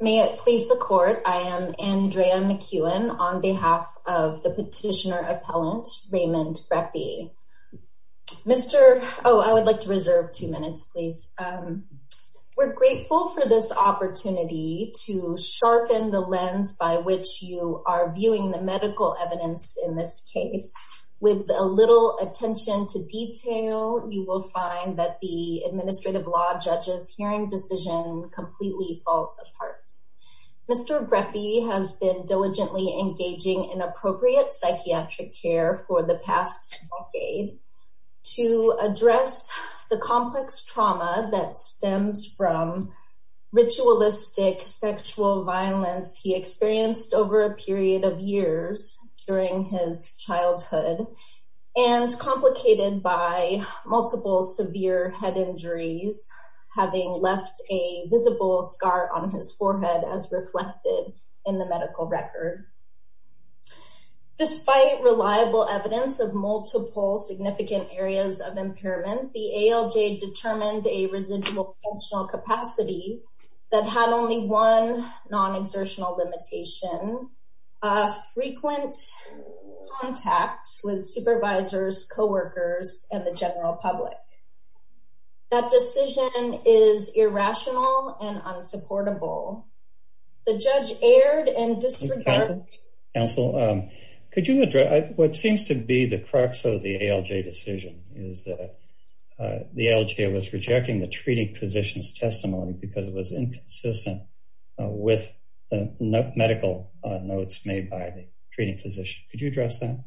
May it please the court, I am Andrea McKeown on behalf of the petitioner appellant Raymond Greppi. Mr. Oh, I would like to reserve two minutes, please. We're grateful for this opportunity to sharpen the lens by which you are viewing the medical evidence in this case. With a little attention to detail, you will find that the administrative law judge's hearing decision completely falls apart. Mr. Greppi has been diligently engaging in appropriate psychiatric care for the past decade to address the complex trauma that stems from ritualistic sexual violence he experienced over a period of years during his childhood and complicated by multiple severe head injuries, having left a visible scar on his forehead as reflected in the medical record. Despite reliable evidence of multiple significant areas of impairment, the ALJ determined a residual functional capacity that had only one non-exertional limitation, a frequent contact with supervisors, co-workers, and the general public. That decision is irrational and unsupportable. The judge erred and disregarded... Counsel, could you address what seems to be the crux of the ALJ decision is that the ALJ was rejecting the treating physician's testimony because it was inconsistent with the medical notes made by the treating physician. Could you address that?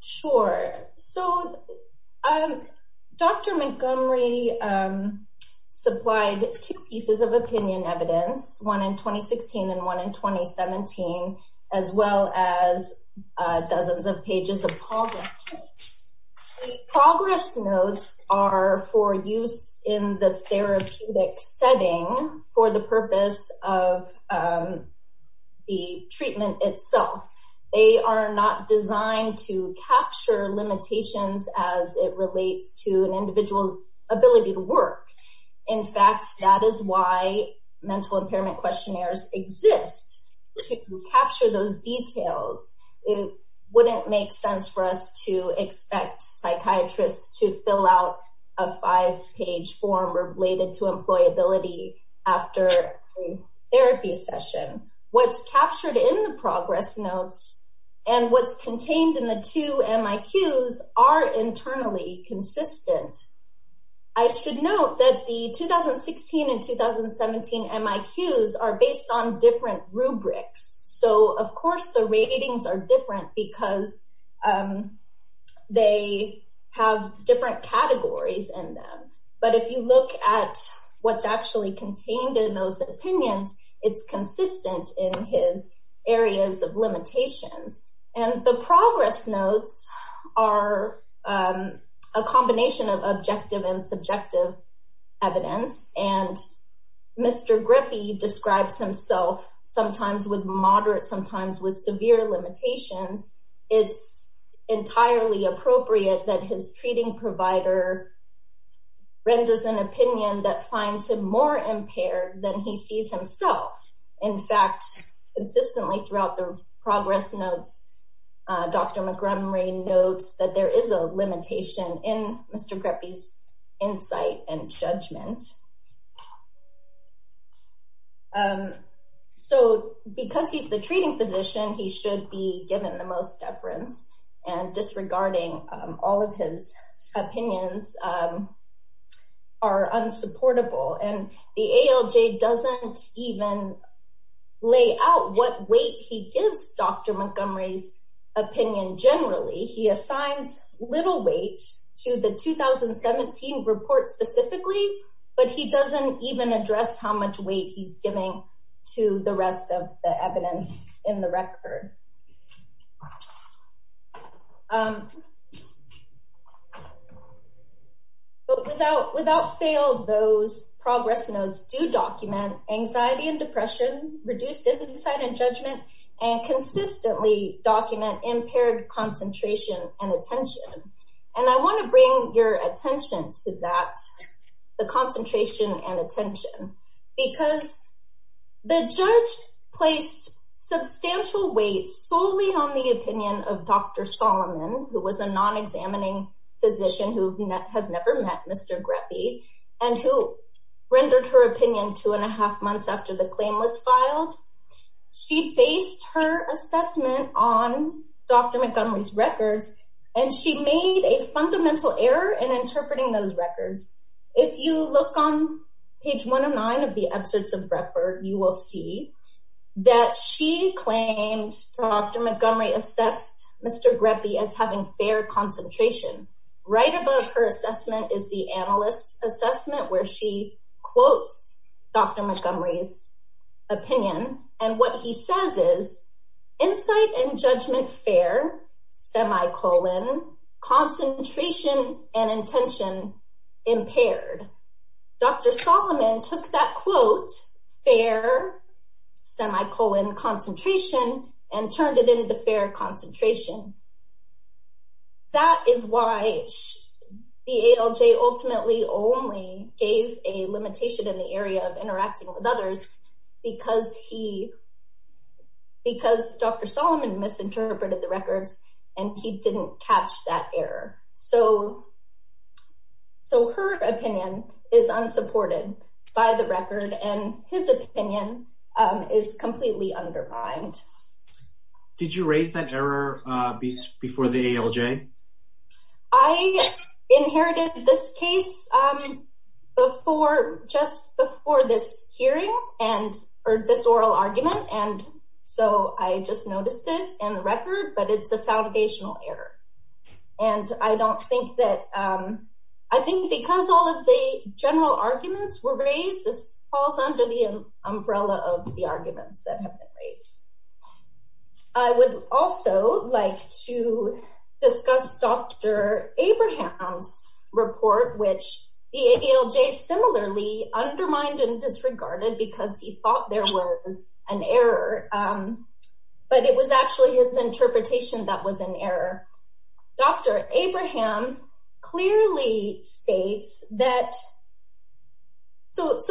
Sure. So, Dr. Montgomery supplied two pieces of opinion evidence, one in 2016 and one in 2017, as well as dozens of pages of progress notes. The progress notes are for use in the therapeutic setting for the purpose of the treatment itself. They are not designed to capture limitations as it relates to an individual's ability to work. In fact, that is why mental impairment questionnaires exist to capture those details. It wouldn't make sense for us to expect psychiatrists to fill out a five-page form related to employability after a therapy session. What's captured in the progress notes and what's contained in the two MIQs are internally consistent. I should note that the 2016 and 2017 MIQs are based on different rubrics. So, of course, the ratings are different because they have different categories in them. But if you look at what's actually contained in those opinions, it's consistent in his areas of limitations. And the progress notes are a combination of objective and subjective evidence. And Mr. Grippy describes himself sometimes with moderate, sometimes with severe limitations. It's entirely appropriate that his treating provider renders an opinion that finds him more impaired than he sees himself. In fact, consistently throughout the progress notes, Dr. McMurray notes that there is a limitation in Mr. Grippy's insight and judgment. So, because he's the treating physician, he should be given the most deference. And disregarding all of his opinions are unsupportable. And the ALJ doesn't even lay out what weight he gives Dr. Montgomery's opinion generally. He assigns little weight to the 2017 report specifically but he doesn't even address how much weight he's giving to the rest of the evidence in the record. But without fail, those progress notes do document anxiety and depression, reduced insight and judgment, and consistently document impaired concentration and attention. And I want to bring your attention to that, the concentration and attention, because the judge placed substantial weight solely on the opinion of Dr. Solomon, who was a non-examining physician who has never met Mr. Grippy and who rendered her opinion two and a half months after the claim was filed. She based her assessment on Dr. Montgomery's records and she made a fundamental error in interpreting those records. If you look on page 109 of the excerpts of Breckford, you will see that she claimed Dr. Montgomery assessed Mr. Grippy as having fair concentration. Right above her assessment is the analyst's assessment where she quotes Dr. Montgomery's opinion and what he says is, insight and judgment fair, semicolon, concentration and intention impaired. Dr. Solomon took that quote, fair, semicolon, concentration, and turned it into fair concentration. That is why the ALJ ultimately only gave a limitation in the area of interacting with others because Dr. Solomon misinterpreted the records and he didn't catch that error. So her opinion is unsupported by the record and his opinion is completely undermined. Did you raise that error before the ALJ? I inherited this case just before this hearing and heard this oral argument and so I just noticed it in the record but it's a foundational error and I don't think that, I think because all of the general arguments were raised, this falls under the umbrella of the arguments that have been raised. I would also like to discuss Dr. Abraham's report which the ALJ similarly undermined and disregarded because he thought there was an error but it was actually his interpretation that was an error. Dr. Abraham clearly states that, so the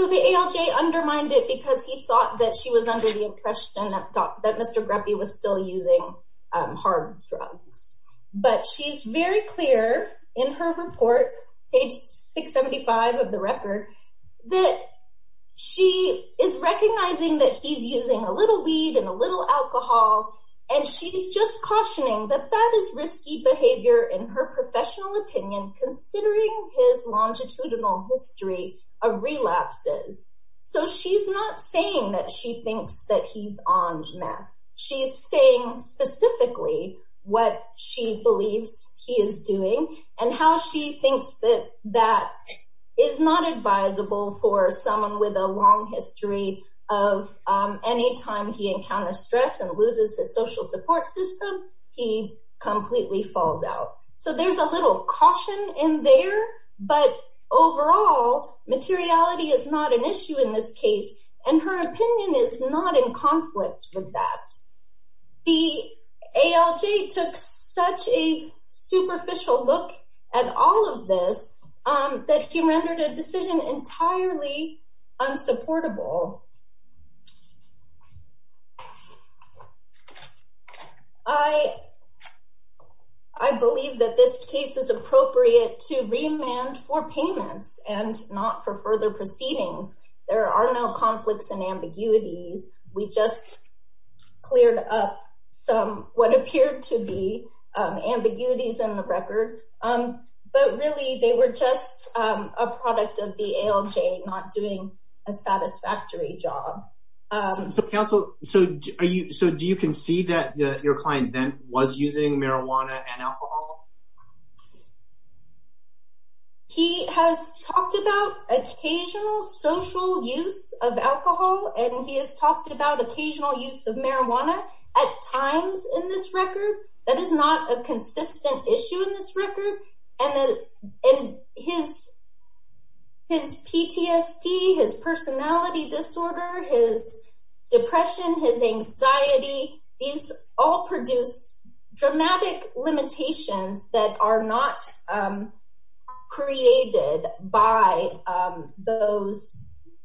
ALJ undermined it because he thought that she was under the impression that Mr. Greppi was still using hard drugs but she's very clear in her report, page 675 of the record, that she is recognizing that he's using a little alcohol and she's just cautioning that that is risky behavior in her professional opinion considering his longitudinal history of relapses. So she's not saying that she thinks that he's on meth, she's saying specifically what she believes he is doing and how she thinks that that is not social support system, he completely falls out. So there's a little caution in there but overall materiality is not an issue in this case and her opinion is not in conflict with that. The ALJ took such a superficial look at all of this that he rendered a decision entirely unsupportable. I believe that this case is appropriate to remand for payments and not for further proceedings. There are no conflicts and ambiguities, we just cleared up some what a satisfactory job. So do you concede that your client was using marijuana and alcohol? He has talked about occasional social use of alcohol and he has talked about occasional use of marijuana at times in this record. That is not a consistent issue in this record and his PTSD, his personality disorder, his depression, his anxiety, these all produce dramatic limitations that are not created by those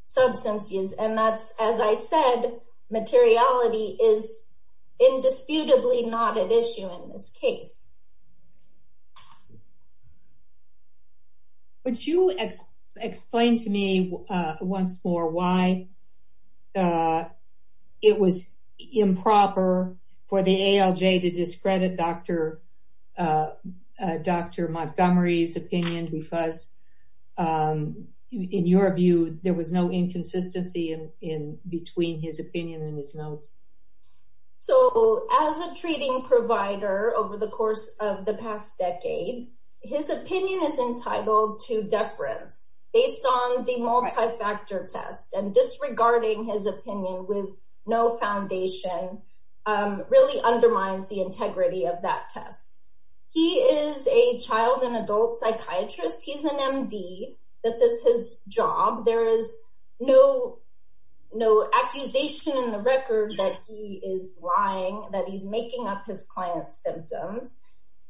substances and that's as I said materiality is indisputably not an issue in this case. Could you explain to me once more why it was improper for the ALJ to discredit Dr. Montgomery's opinion because in your view there was no inconsistency in between his opinion and notes? So as a treating provider over the course of the past decade his opinion is entitled to deference based on the multi-factor test and disregarding his opinion with no foundation really undermines the integrity of that test. He is a child and adult psychiatrist, he's an MD, this is his job, there is no accusation in the record that he is lying, that he's making up his client's symptoms.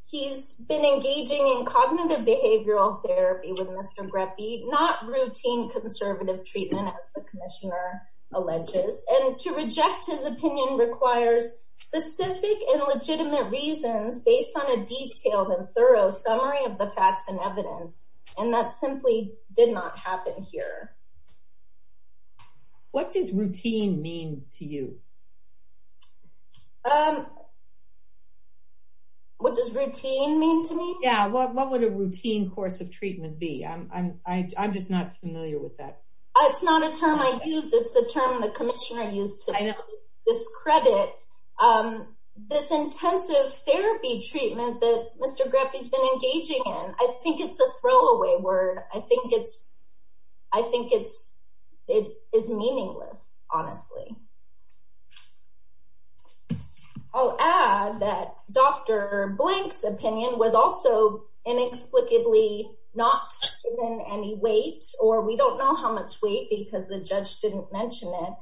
He's been engaging in cognitive behavioral therapy with Mr. Greffey, not routine conservative treatment as the commissioner alleges and to reject his opinion requires specific and legitimate reasons based on a detailed and thorough summary of the facts and evidence and that simply did not happen here. What does routine mean to you? What does routine mean to me? Yeah, what would a routine course of treatment be? I'm just not familiar with that. It's not a term I use, it's the term the commissioner used to discredit um this intensive therapy treatment that Mr. Greffey's been engaging in. I think it's a throwaway word, I think it's I think it's it is meaningless honestly. I'll add that Dr. Blank's opinion was also inexplicably not given any weight or we don't know how much weight because the judge didn't mention it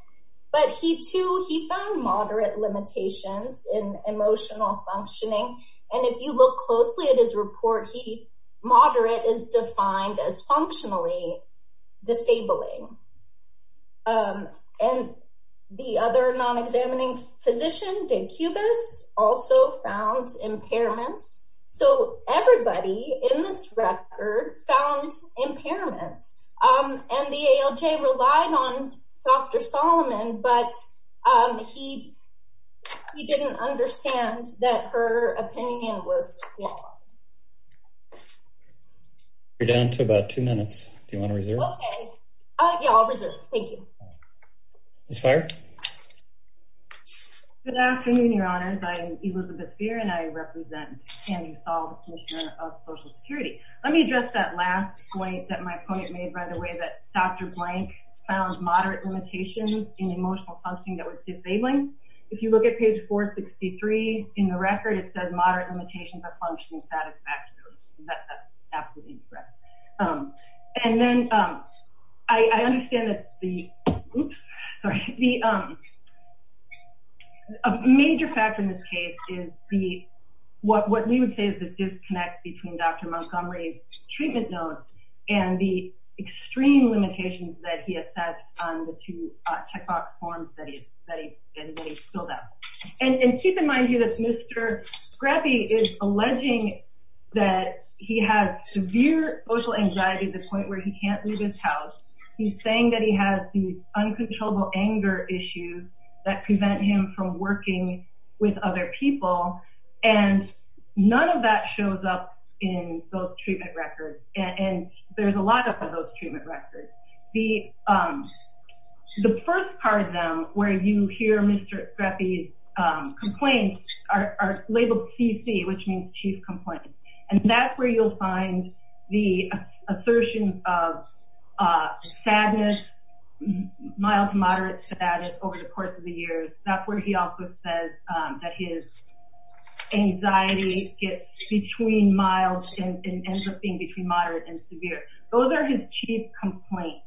but he too he found moderate limitations in emotional functioning and if you look closely at his report he moderate is defined as functionally disabling um and the other non-examining physician did cubis also found impairments so everybody in this record found impairments um and the ALJ relied on Dr. Solomon but um he he didn't understand that her opinion was flawed. You're down to about two minutes, do you want to reserve? Okay uh yeah I'll reserve, thank you. Ms. Feier? Good afternoon your honors, I'm Elizabeth Feier and I represent Tammy Saul, the commissioner of social security. Let me address that last point that my opponent made by the way that Dr. Blank found moderate limitations in emotional functioning that was disabling. If you look at page 463 in the record it says moderate limitations of functional satisfactory that's absolutely correct um and then um I understand that the oops sorry the um a major factor in this case is the what what we would say is the disconnect between Dr. Montgomery's treatment notes and the extreme limitations that he assessed on the two uh checkbox forms that he that he filled out and keep in mind here that Mr. Graffy is alleging that he has severe social anxiety to the point where he can't leave his house. He's saying that he has these uncontrollable anger issues that prevent him from working with other people and none of that shows up in those treatment records and there's a lot of those treatment records. The um the first part of where you hear Mr. Graffy's um complaints are labeled CC which means chief complaint and that's where you'll find the assertion of uh sadness mild to moderate to that is over the course of the years. That's where he also says um that his anxiety gets between mild and ends up being between moderate and severe. Those are his chief complaints.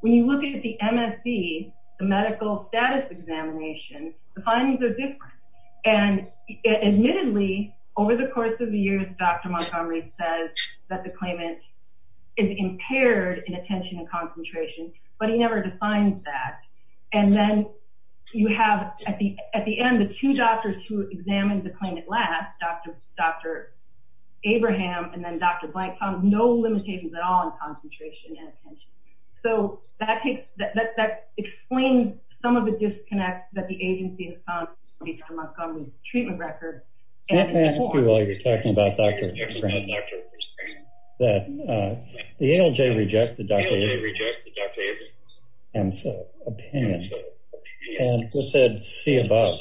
When you look at the MSD, the medical status examination, the findings are different and admittedly over the course of the years Dr. Montgomery says that the claimant is impaired in attention and concentration but he never defines that and then you have at the at the end the two doctors who examined the claimant last Dr. Dr. Abraham and then Dr. Blankfound no limitations at all in concentration and attention so that takes that that explains some of the disconnects that the agency has found between Dr. Montgomery's treatment records. Let me ask you while you're talking about Dr. that uh the ALJ rejected Dr. Abraham's opinion and just said see above.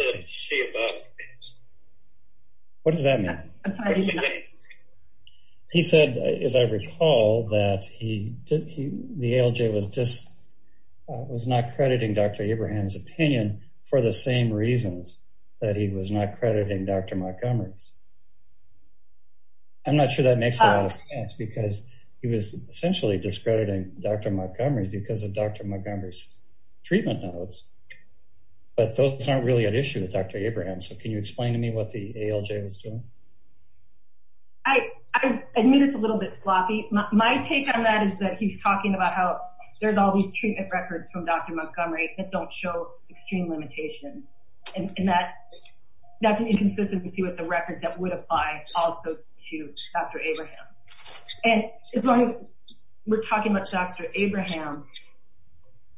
What does that mean? He said as I recall that he did the ALJ was just was not crediting Dr. Abraham's opinion for the same reasons that he was not crediting Dr. Montgomery's. I'm not sure that makes a lot of sense because he was essentially discrediting Dr. Montgomery because of Dr. Montgomery's treatment notes but those aren't really an issue with Dr. Abraham so can you explain to me what the ALJ was doing? I admit it's a little bit sloppy. My take on that is that he's talking about how there's all these treatment records from Dr. Montgomery that don't show extreme limitations and that that's an inconsistency with the record that would apply also to Dr. Abraham and as long as we're talking about Dr. Abraham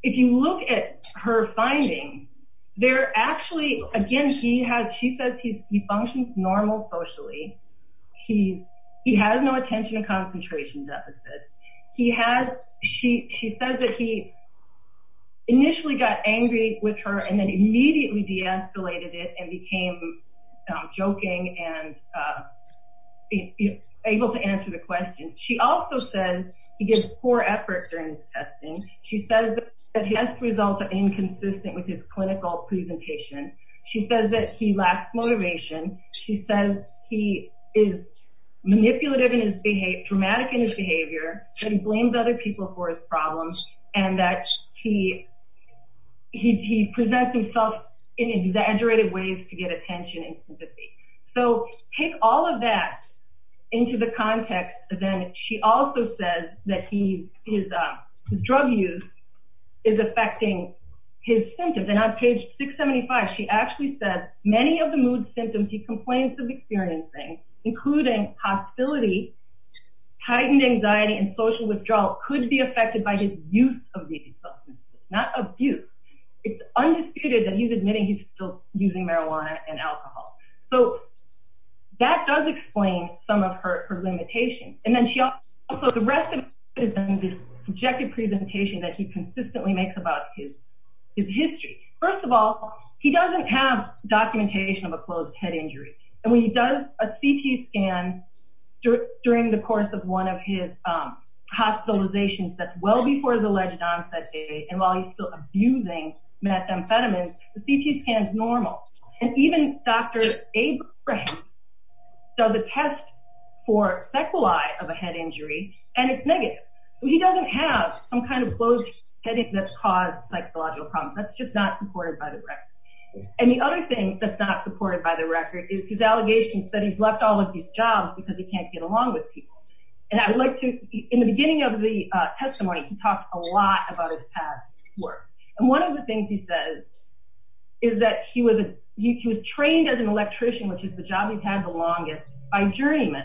if you look at her findings they're actually again he has she says he functions normal socially he he has no attention and concentration deficit he has she she says that he initially got angry with her and then if you're able to answer the question she also says he gives poor effort during his testing she says that he has results that are inconsistent with his clinical presentation she says that he lacks motivation she says he is manipulative in his behavior dramatic in his behavior and blames other people for his problems and that he he presents himself in exaggerated ways to get attention and sympathy so take all of that into the context then she also says that he his drug use is affecting his symptoms and on page 675 she actually says many of the mood symptoms he complains of experiencing including hostility tightened anxiety and social withdrawal could be affected by his use of these substances not abuse it's undisputed that he's admitting he's still using marijuana and alcohol so that does explain some of her limitations and then she also the rest is in this subjective presentation that he consistently makes about his his history first of all he doesn't have documentation of a closed head injury and when he does a ct scan during the course of one of his um hospitalizations that's before the alleged onset day and while he's still abusing methamphetamines the ct scan is normal and even dr abraham so the test for sequelae of a head injury and it's negative he doesn't have some kind of closed heading that's caused psychological problems that's just not supported by the record and the other thing that's not supported by the record is his allegations that he's left all of these jobs because he can't get along with people and i would like to in the beginning of the testimony he talked a lot about his past work and one of the things he says is that he was he was trained as an electrician which is the job he's had the longest by journeyman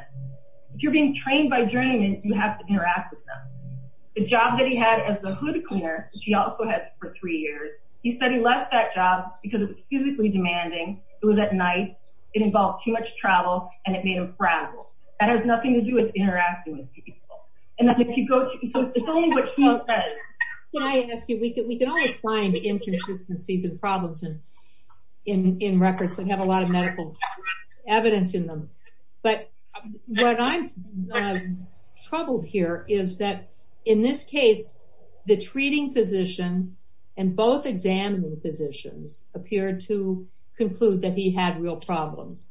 if you're being trained by journeyman you have to interact with them the job that he had as a hood cleaner which he also had for three years he said he left that job because it was physically demanding it was at night it involved too travel and it made him fragile that has nothing to do with interacting with people and that's if you go to so it's only what she says can i ask you we can we can always find inconsistencies and problems in in in records that have a lot of medical evidence in them but what i'm troubled here is that in this case the treating physician and both examining physicians appeared to conclude that he had real problems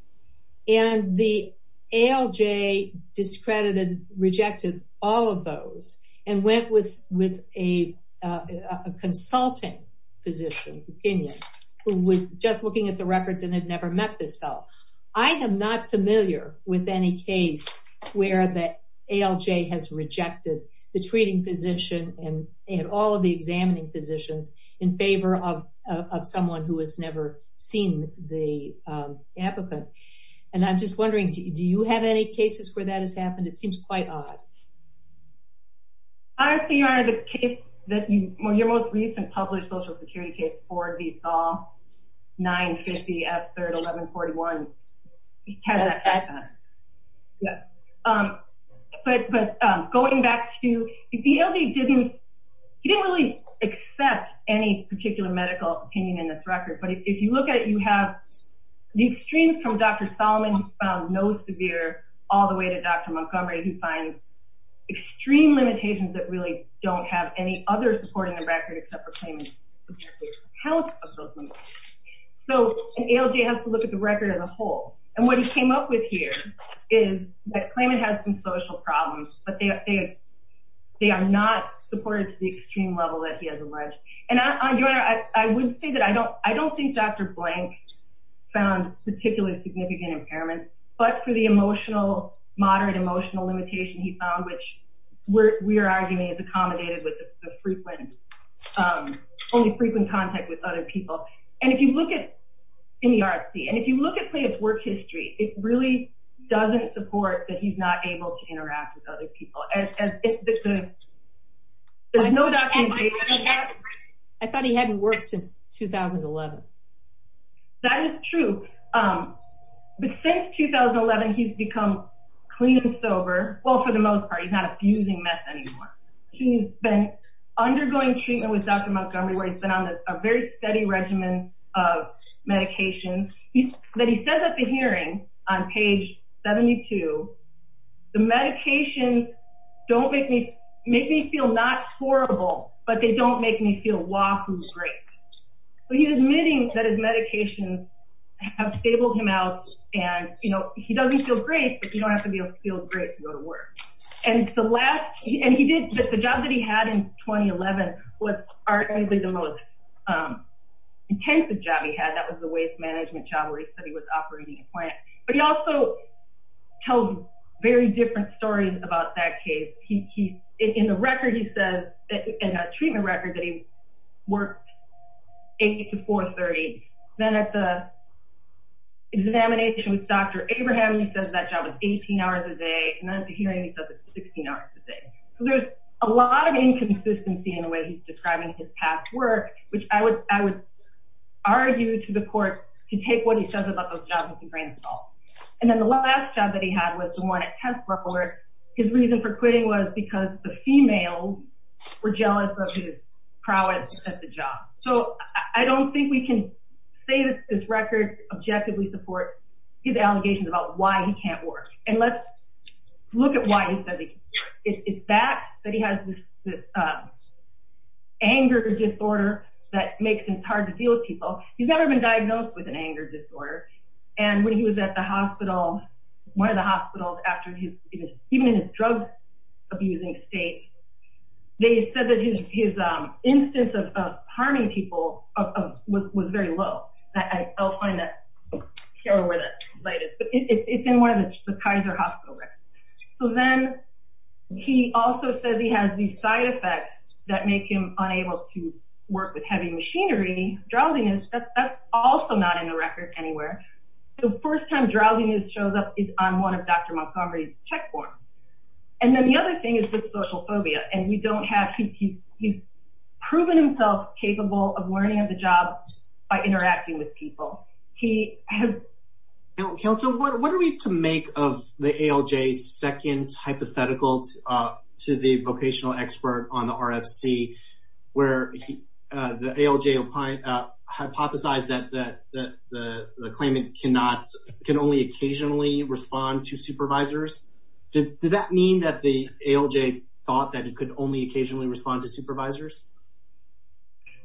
and the alj discredited rejected all of those and went with with a uh a consulting physician's opinion who was just looking at the records and had never met this fell i am not familiar with any case where the alj has rejected the treating physician and they had all of the examining physicians in favor of of someone who has never seen the um applicant and i'm just wondering do you have any cases where that has happened it seems quite odd i think you are the case that you when your most recent published social security all 9 50 f 3 11 41 yes um but but um going back to the lb didn't he didn't really accept any particular medical opinion in this record but if you look at it you have these streams from dr solomon found no severe all the way to dr montgomery who finds extreme limitations that really don't have any other supporting the record except for claiming health so an alj has to look at the record as a whole and what he came up with here is that claimant has some social problems but they they are not supported to the extreme level that he has alleged and i'm doing i i would say that i don't i don't think dr blank found particularly significant impairments but for the emotional moderate emotional limitation he found which we're we're arguing is accommodated with the frequent um only frequent contact with other people and if you look at in the rsc and if you look at play it's work history it really doesn't support that he's not able to interact with other people as if the there's no documentation i thought he hadn't worked since 2011 that is true um but since 2011 he's become clean and sober well for the most part he's not abusing meth anymore he's been undergoing treatment with dr montgomery where he's been on a very steady regimen of medication that he says at the hearing on page 72 the medications don't make me make me feel not horrible but they don't make me feel wahoo great so he's admitting that his medications have stabled him out and you know he doesn't feel great but you don't have to be able to feel great to go to work and the last and he did the job that he had in 2011 was arguably the most um intensive job he had that was the waste management job where he said he was operating a plant but he also tells very different stories about that case he he's in the record he says in a treatment record that he worked 8 to 4 30 then at the examination with dr abraham he says that job was 18 hours a day and then at the hearing he says it's 16 hours a day so there's a lot of inconsistency in the way he's describing his past work which i would i would argue to the court to take what he says about those jobs with a grain of salt and then the last job that he had was the one at test report his reason for quitting was because the females were jealous of his prowess at the job so i don't think we can say that this record objectively supports his allegations about why he can't work and let's look at why he said it's that that he has this uh anger disorder that makes him hard to deal with people he's never been diagnosed with an anger disorder and when he was at the even in his drug abusing state they said that his his um instance of of harming people of was very low i'll find that here where that light is but it's in one of the kaiser hospital records so then he also says he has these side effects that make him unable to work with heavy machinery drowsiness that's also not in the record anywhere the first time drowsiness shows up is on one of dr montgomery's check forms and then the other thing is his social phobia and we don't have he's he's proven himself capable of learning of the job by interacting with people he has council what are we to make of the alj's second hypothetical uh to the vocational expert on the rfc where the alj opine uh hypothesized that that the the claimant cannot can only occasionally respond to supervisors did that mean that the alj thought that it could only occasionally respond to supervisors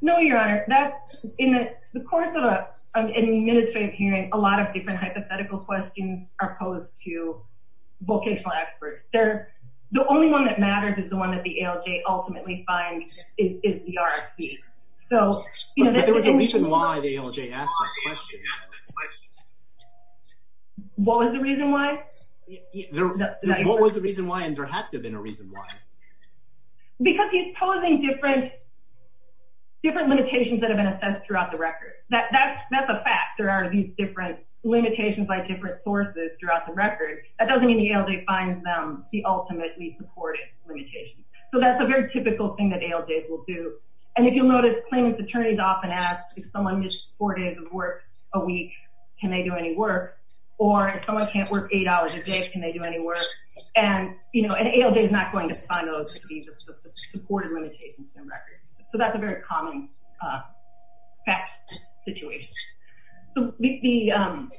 no your honor that's in the course of a administrative hearing a lot of different hypothetical questions are posed to vocational experts they're the only one that matters is the that the alj ultimately finds is the rfc so you know there was a reason why the alj asked that question what was the reason why there what was the reason why and there had to have been a reason why because he's posing different different limitations that have been assessed throughout the record that that's that's a fact there are these different limitations by different sources throughout the record that doesn't mean the alj finds them the ultimately supported limitations so that's a very typical thing that alj's will do and if you'll notice claimant's attorneys often ask if someone just four days of work a week can they do any work or if someone can't work eight hours a day can they do any work and you know an alj is not going to find those supportive records so that's a very common uh fact situation so the um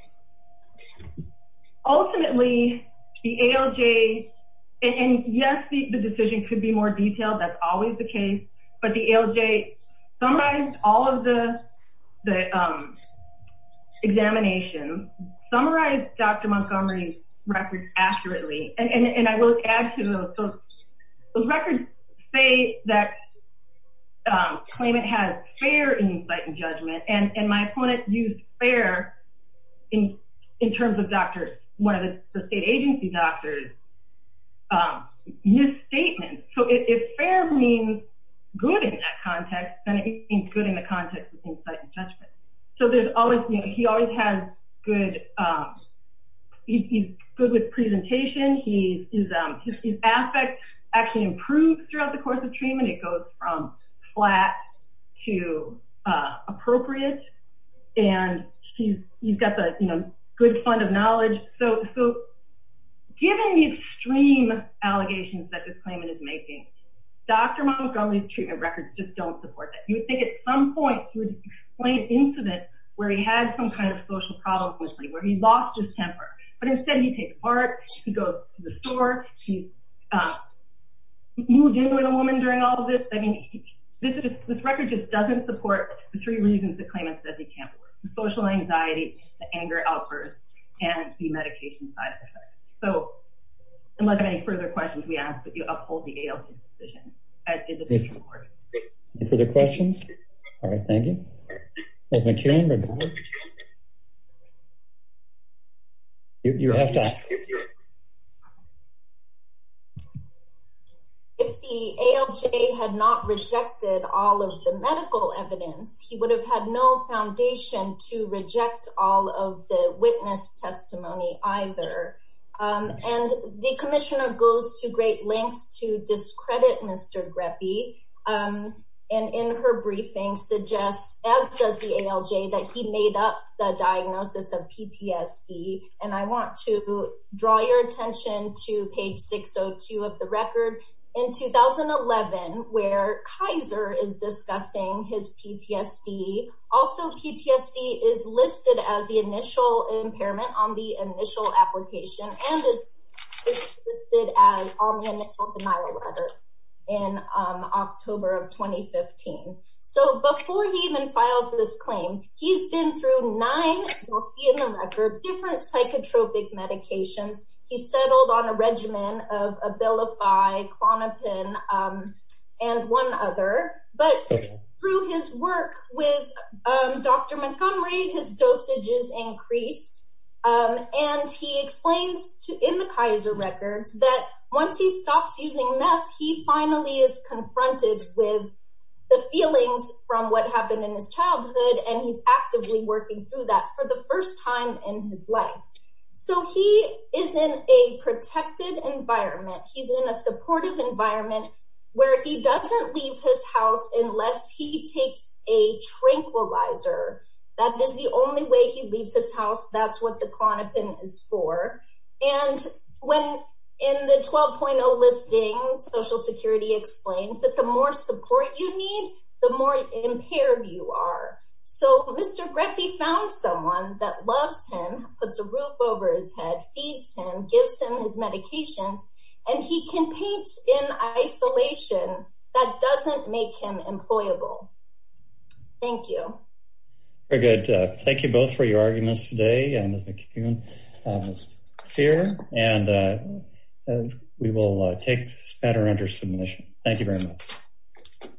ultimately the alj and yes the decision could be more detailed that's always the case but the alj summarized all of the the um examinations summarized dr montgomery's records accurately and and i will add to those those records say that um claimant has fair insight and judgment and and my opponent used fair in in terms of doctors one of the state agency doctors um use statements so if fair means good in that context then it means good in the context insight and judgment so there's always you know he always has good um he's good with presentation he's um his aspects actually improve throughout the course of treatment it goes from flat to uh appropriate and he's he's got the you know good fund of knowledge so so given these extreme allegations that this claimant is making dr montgomery's treatment records just don't support you would think at some point he would explain an incident where he had some kind of social problems with me where he lost his temper but instead he takes part he goes to the store he's moved in with a woman during all of this i mean this is this record just doesn't support the three reasons the claimant said he can't work the social anxiety the anger outburst and the medication side of it so unless of any further questions we ask that you uphold the alj decision further questions all right thank you if the alj had not rejected all of the medical evidence he would have had no foundation to reject all of the witness testimony either um and the commissioner goes to great lengths to discredit mr greppy um and in her briefing suggests as does the alj that he made up the diagnosis of ptsd and i want to draw your attention to page 602 of the record in 2011 where kaiser is discussing his ptsd also ptsd is listed as the initial impairment on the initial application and it's listed as on the initial denial letter in um october of 2015 so before he even files this claim he's been through nine you'll see in the record different psychotropic medications he settled on a regimen of abilify clonopin um and one other but through his work with um dr montgomery his dosages increased um and he explains to in the kaiser records that once he stops using meth he finally is confronted with the feelings from what happened in his childhood and he's actively working through that for the first time in his life so he is in a protected environment he's in a supportive environment where he doesn't leave his house unless he takes a tranquilizer that is the only way he leaves his house that's what the clonopin is for and when in the 12.0 listing social security explains that the more support you need the more impaired you are so mr greppy found someone that loves him puts a roof over his head feeds him gives him his medications and he can paint in isolation that doesn't make him employable thank you very good thank you both for your arguments today and as mccune fear and we will take this matter under submission thank you very much